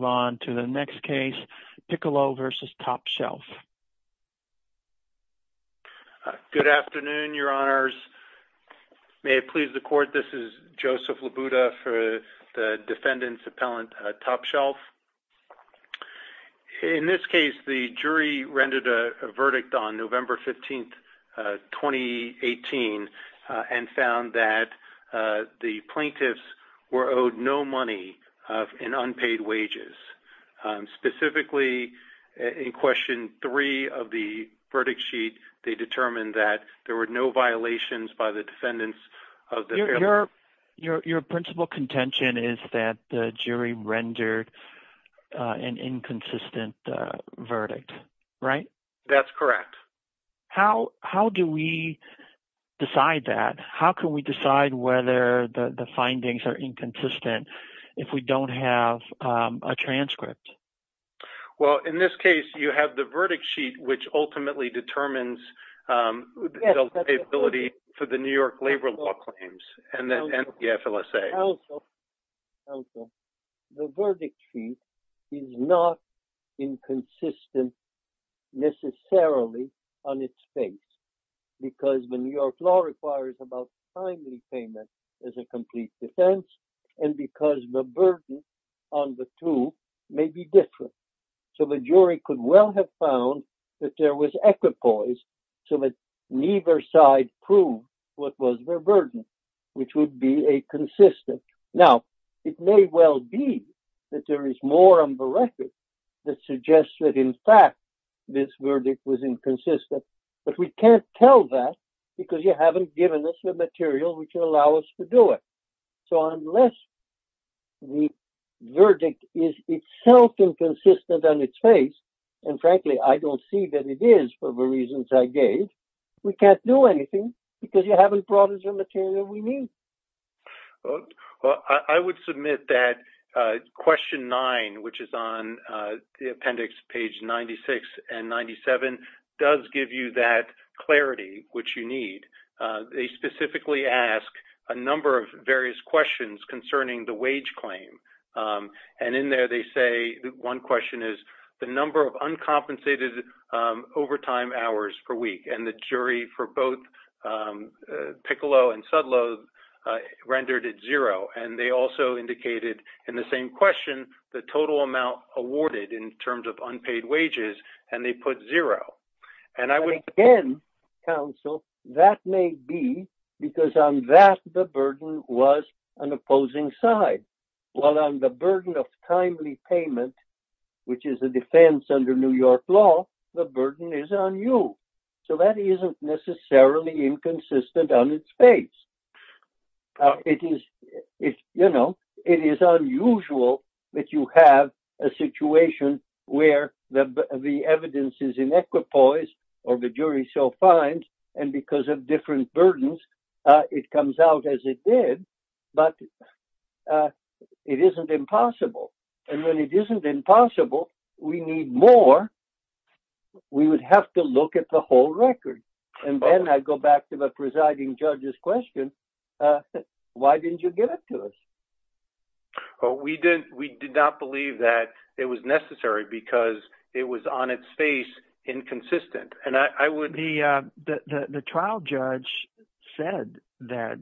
Good afternoon, Your Honors. May it please the Court, this is Joseph Labuda for the Defendant's Appellant Top Shelf. In this case, the jury rendered a verdict on November 15, 2018, and found that the plaintiffs were owed no money in unpaid wages. Specifically, in Question 3 of the verdict sheet, they determined that there were no violations by the defendants of the appellant. Your principal contention is that the jury rendered an inconsistent verdict, right? That's correct. How do we decide that? How can we decide whether the findings are inconsistent if we don't have a transcript? Well, in this case, you have the verdict sheet, which ultimately determines the liability for the New York labor law claims and the FLSA. Counsel, the verdict sheet is not inconsistent necessarily on its face, because the New York law requires about timely payment as a complete defense, and because the burden on the two may be different. So the jury could well have found that there was equipoise so that neither side proved what was their burden, which would be a consistent. Now, it may well be that there is more on the record that suggests that, in fact, this verdict was inconsistent, but we can't tell that because you haven't given us the material which would allow us to do it. So unless the verdict is itself inconsistent on its face, and frankly, I don't see that it is for the reasons I gave, we can't do anything because you haven't brought us the material we need. Well, I would submit that question nine, which is on the appendix, page 96 and 97, does give you that clarity which you need. They specifically ask a number of various questions concerning the wage claim, and in there they say, one question is, the number of compensated overtime hours per week, and the jury for both Piccolo and Sudlow rendered it zero, and they also indicated in the same question the total amount awarded in terms of unpaid wages, and they put zero. And again, counsel, that may be because on that the burden was an opposing side, while on the burden of timely payment, which is a defense under New York law, the burden is on you. So that isn't necessarily inconsistent on its face. It is, you know, it is unusual that you have a situation where the evidence is in equipoise, or the jury so finds, and because of different burdens, it comes out as it did, but it isn't impossible. And when it isn't impossible, we need more. We would have to look at the whole record. And then I go back to the presiding judge's question, why didn't you give it to us? Well, we did not believe that it was necessary because it was on its face inconsistent, and I would... The trial judge said that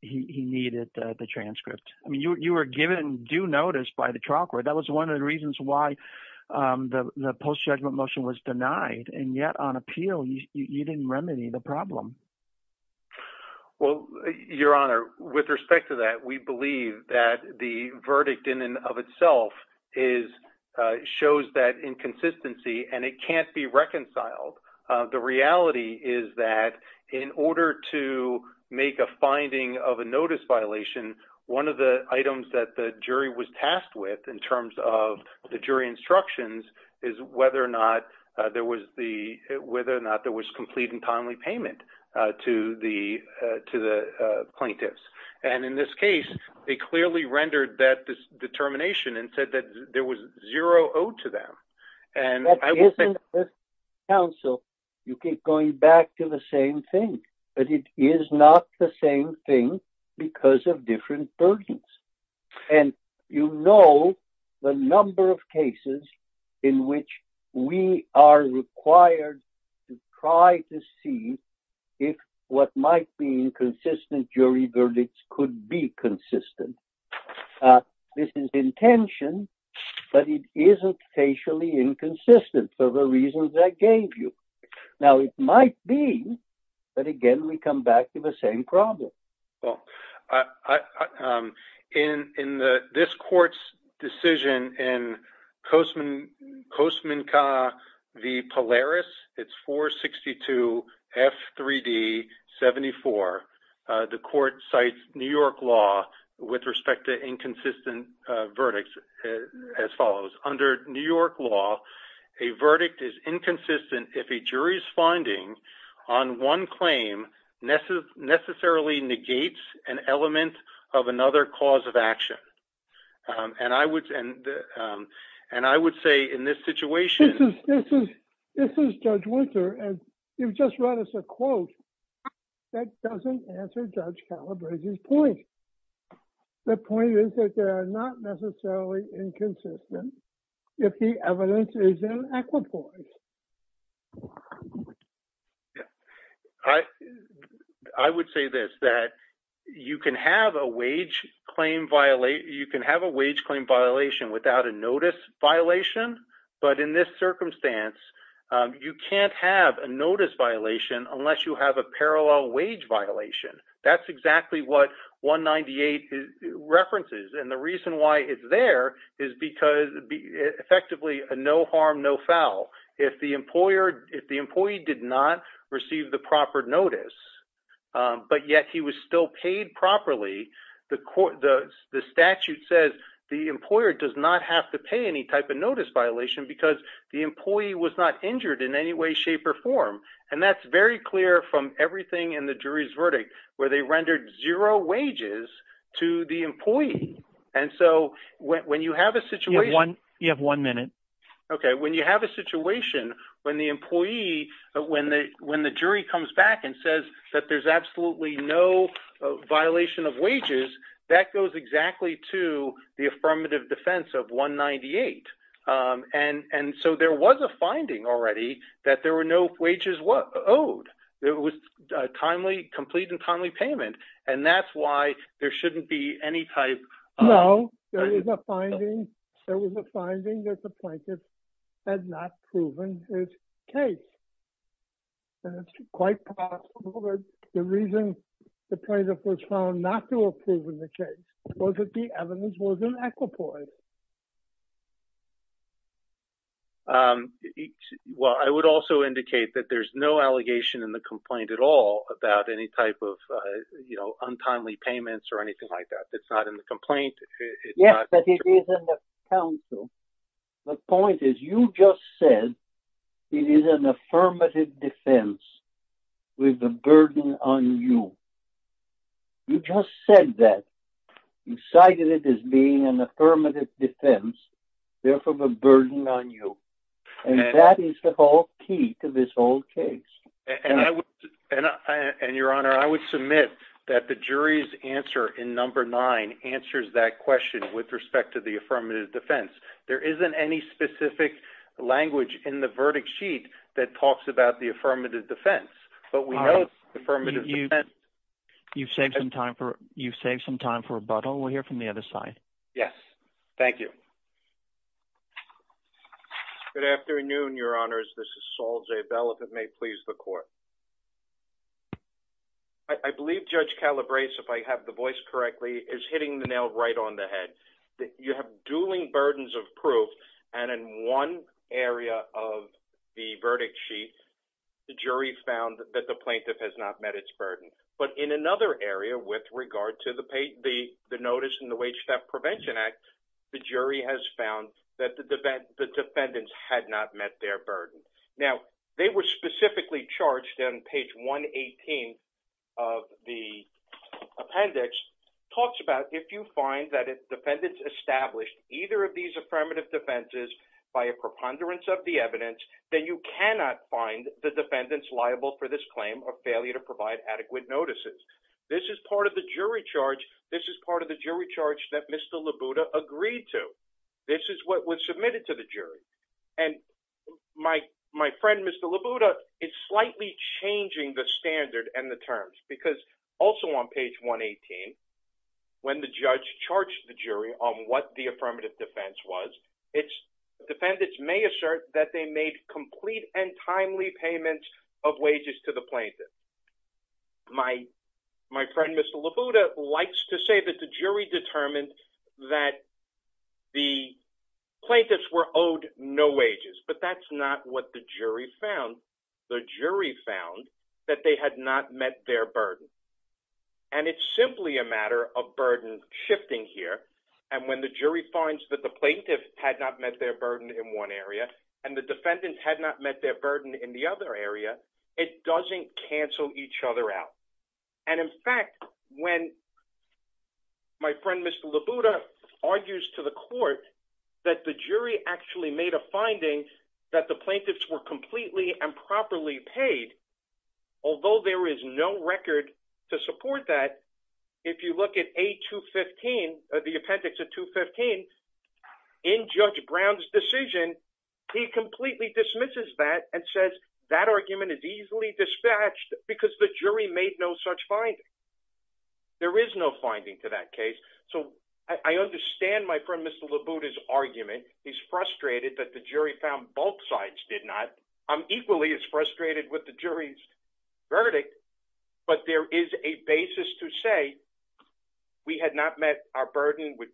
he needed the transcript. I mean, you were given due notice by the trial court. That was one of the reasons why the post-judgment motion was denied, and yet on appeal, you didn't remedy the problem. Well, Your Honor, with respect to that, we believe that the verdict in and of itself shows that inconsistency, and it can't be reconciled. The reality is that in order to make a finding of a notice violation, one of the items that the jury was tasked with in terms of the jury instructions is whether or not there was complete and timely payment to the plaintiffs. And in this case, they clearly rendered that determination and said that there was zero owed to them. And I will say... But isn't this counsel, you keep going back to the same thing, but it is not the same thing because of different burdens. And you know the number of cases in which we are required to try to see if what might be inconsistent jury verdicts could be consistent. This is intention, but it isn't facially inconsistent for the reasons I gave you. Now, it might be, but again, we come back to the same problem. Well, in this court's decision in Costman v. Polaris, it's 462 F3D 74, the court cites New York law with respect to inconsistent verdicts as follows. Under New York law, a verdict is inconsistent if a jury's finding on one claim necessarily negates an element of another cause of action. And I would say in this situation... This is Judge Winter, and you've just read us a quote that doesn't answer Judge Calabresi's point. The point is that they are not necessarily inconsistent if the evidence is equitable. I would say this, that you can have a wage claim violation without a notice violation, but in this circumstance, you can't have a notice violation unless you have a parallel wage violation. That's exactly what 198 references. And the reason why it's there is because effectively, no harm, no foul. If the employee did not receive the proper notice, but yet he was still paid properly, the statute says the employer does not have to pay any type of notice violation because the employee was not injured in any way, shape, or form. And that's very clear from everything in the jury's verdict, where they rendered zero wages to the employee. And so when you have a situation... You have one minute. Okay. When you have a situation when the employee, when the jury comes back and says that there's absolutely no violation of wages, that goes exactly to the affirmative defense of 198. And so there was a finding already that there were no wages owed. It was a complete and timely payment, and that's why there shouldn't be any type... No. There was a finding that the plaintiff had not proven his case. And it's quite possible that the reason the plaintiff was found not to have proven the case was that the evidence wasn't equitable. Well, I would also indicate that there's no allegation in the complaint at all about any type of untimely payments or anything like that. It's not in the complaint. Yes, but it is in the counsel. The point is you just said it is an affirmative defense with the burden on you. You just said that. You cited it as being affirmative defense, therefore the burden on you. And that is the whole key to this whole case. And your honor, I would submit that the jury's answer in number nine answers that question with respect to the affirmative defense. There isn't any specific language in the verdict sheet that talks about the affirmative defense, but we know the affirmative defense... You've saved some time for rebuttal. We'll hear from the other side. Yes. Thank you. Good afternoon, your honors. This is Saul J. Bell, if it may please the court. I believe Judge Calabrese, if I have the voice correctly, is hitting the nail right on the head. You have dueling burdens of proof, and in one area of the verdict sheet, the jury found that the plaintiff has not met its burden. But in another area with regard to the notice in the Wage Theft Prevention Act, the jury has found that the defendants had not met their burden. Now, they were specifically charged in page 118 of the appendix, talks about if you find that if defendants established either of these affirmative defenses by a preponderance of the evidence, then you cannot find the defendants liable for this is part of the jury charge. This is part of the jury charge that Mr. Labuda agreed to. This is what was submitted to the jury. And my friend, Mr. Labuda, is slightly changing the standard and the terms, because also on page 118, when the judge charged the jury on what the affirmative defense was, defendants may assert that they made complete and timely payments of wages to the defendant. My friend, Mr. Labuda, likes to say that the jury determined that the plaintiffs were owed no wages, but that's not what the jury found. The jury found that they had not met their burden. And it's simply a matter of burden shifting here. And when the jury finds that the plaintiff had not met their burden in one area, and the defendants had not met their burden in the other area, it doesn't cancel each other out. And in fact, when my friend, Mr. Labuda, argues to the court that the jury actually made a finding that the plaintiffs were completely and properly paid, although there is no record to support that, if you look at A215, the appendix of 215, in Judge Brown's decision, he completely dismisses that and says that argument is easily dispatched because the jury made no such finding. There is no finding to that case. So I understand my friend, Mr. Labuda's argument. He's frustrated that the jury found both sides did not. I'm equally as frustrated with the jury's verdict. But there is a basis to say we had not met our burden with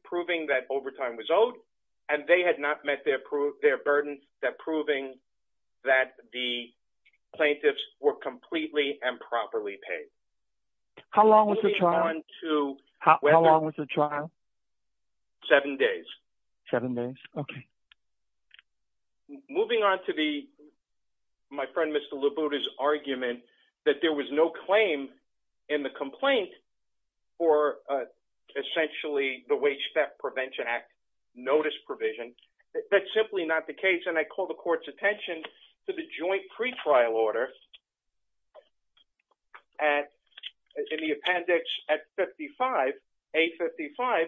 overtime was owed, and they had not met their burden that proving that the plaintiffs were completely and properly paid. How long was the trial? How long was the trial? Seven days. Seven days. Okay. Moving on to my friend, Mr. Labuda's argument that there was no claim in the complaint for essentially the Wage Step Prevention Act notice provision. That's simply not the case, and I call the court's attention to the joint pretrial order in the appendix at 55, A55,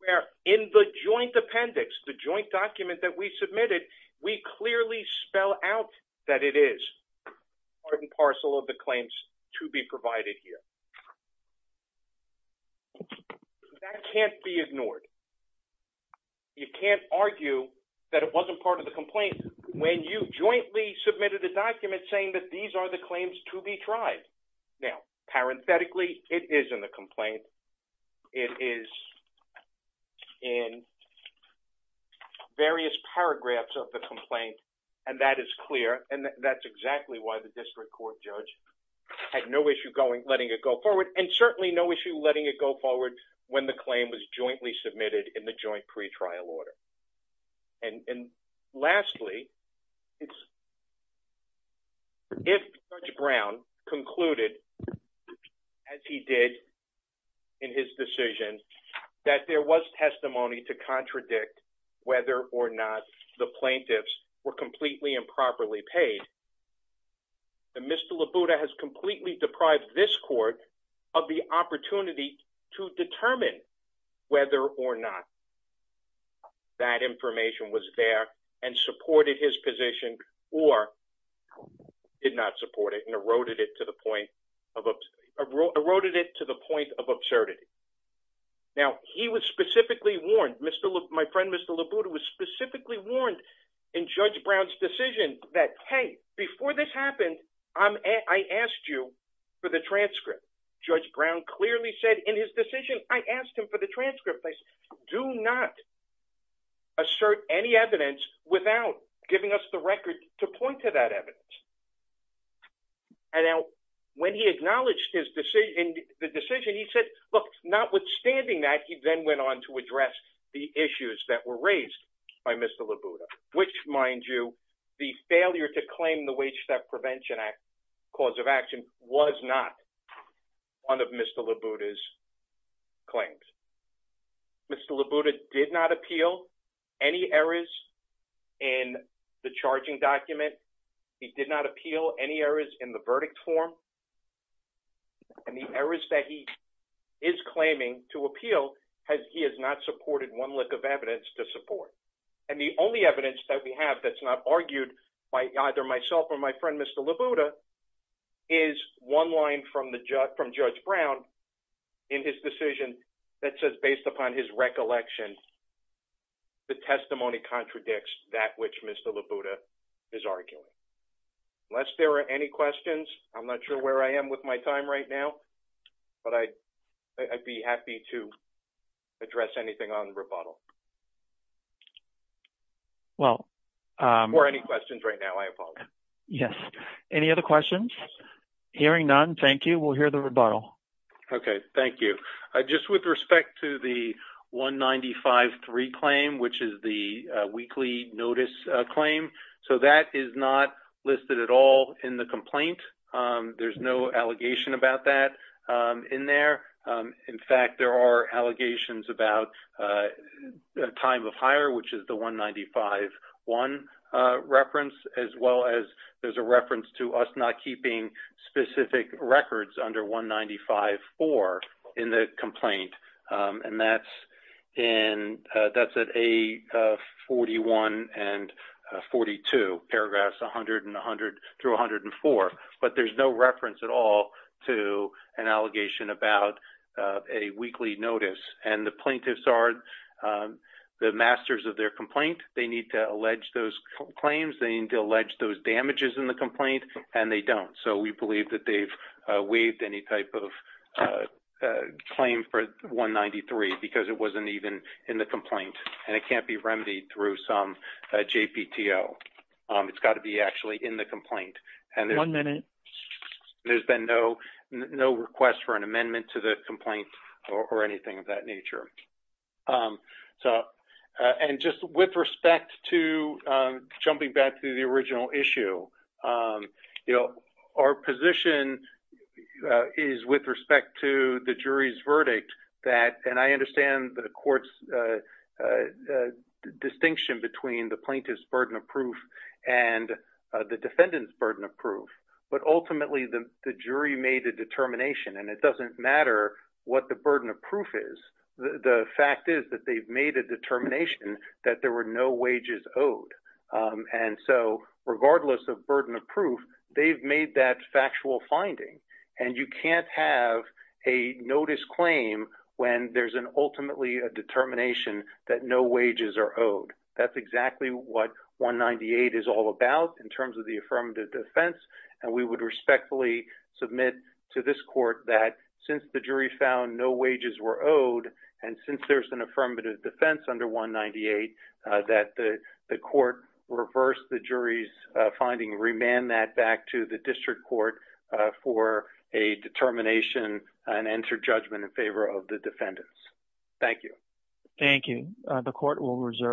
where in the joint appendix, the joint document that we submitted, we clearly spell out that it is part and parcel of the claims to be provided here. That can't be ignored. You can't argue that it wasn't part of the complaint when you jointly submitted a document saying that these are the claims to be tried. Now, parenthetically, it is in the complaint. It is in various paragraphs of the complaint, and that is clear, and that's exactly why the district court judge had no issue letting it go forward and certainly no issue letting it go forward when the claim was jointly submitted in the joint pretrial order. And lastly, if Judge Brown concluded as he did in his decision that there was testimony to contradict whether or not the plaintiffs were completely improperly paid, Mr. Labuda has completely deprived this court of the opportunity to determine whether or not that information was there and supported his position or did not support it and eroded it to the point of absurdity. Now, he was specifically warned, my friend, Mr. Labuda was specifically warned in Judge Brown's decision that, hey, before this happened, I asked you for the transcript. Judge Brown clearly said in his decision, I asked him for the transcript. Do not assert any evidence without giving us the record to point to that evidence. And now, when he acknowledged the decision, he said, look, notwithstanding that, he then went on to address the issues that were raised by Mr. Labuda, which, mind you, the failure to claim the Wage Step Prevention Act cause of action was not one of Mr. Labuda's claims. Mr. Labuda did not appeal any errors in the verdict form. And the errors that he is claiming to appeal, he has not supported one lick of evidence to support. And the only evidence that we have that's not argued by either myself or my friend, Mr. Labuda, is one line from Judge Brown in his decision that says, based upon his recollection, the testimony contradicts that which Mr. Labuda is arguing. Unless there are any questions, I'm not sure where I am with my time right now, but I'd be happy to address anything on rebuttal. Well... Or any questions right now, I apologize. Yes. Any other questions? Hearing none, thank you. We'll hear the rebuttal. Okay. Thank you. Just with respect to the 195-3 claim, which is the weekly notice claim, so that is not listed at all in the complaint. There's no allegation about that in there. In fact, there are allegations about time of hire, which is the 195-1 reference, as well as a reference to us not keeping specific records under 195-4 in the complaint. And that's at A41 and 42, paragraphs 100 through 104. But there's no reference at all to an allegation about a weekly notice. And the plaintiffs are the masters of their complaint. They need to allege those claims, they need to allege those damages in the complaint, and they don't. So we believe that they've waived any type of claim for 193 because it wasn't even in the complaint, and it can't be remedied through some JPTO. It's got to be actually in the complaint. One minute. There's been no request for an amendment to the complaint or anything of that nature. So, and just with respect to jumping back to the original issue, you know, our position is with respect to the jury's verdict that, and I understand the court's distinction between the plaintiff's burden of proof and the defendant's burden of proof, but ultimately the jury made a determination, and it doesn't matter what the burden of proof is. The fact is that they've made a determination that there were no wages owed. And so, regardless of burden of proof, they've made that factual finding. And you can't have a notice claim when there's an ultimately a determination that no wages are owed. That's exactly what 198 is all about in terms of the this court, that since the jury found no wages were owed, and since there's an affirmative defense under 198, that the court reversed the jury's finding, remanded that back to the district court for a determination and entered judgment in favor of the defendants. Thank you. Thank you. The court will reserve.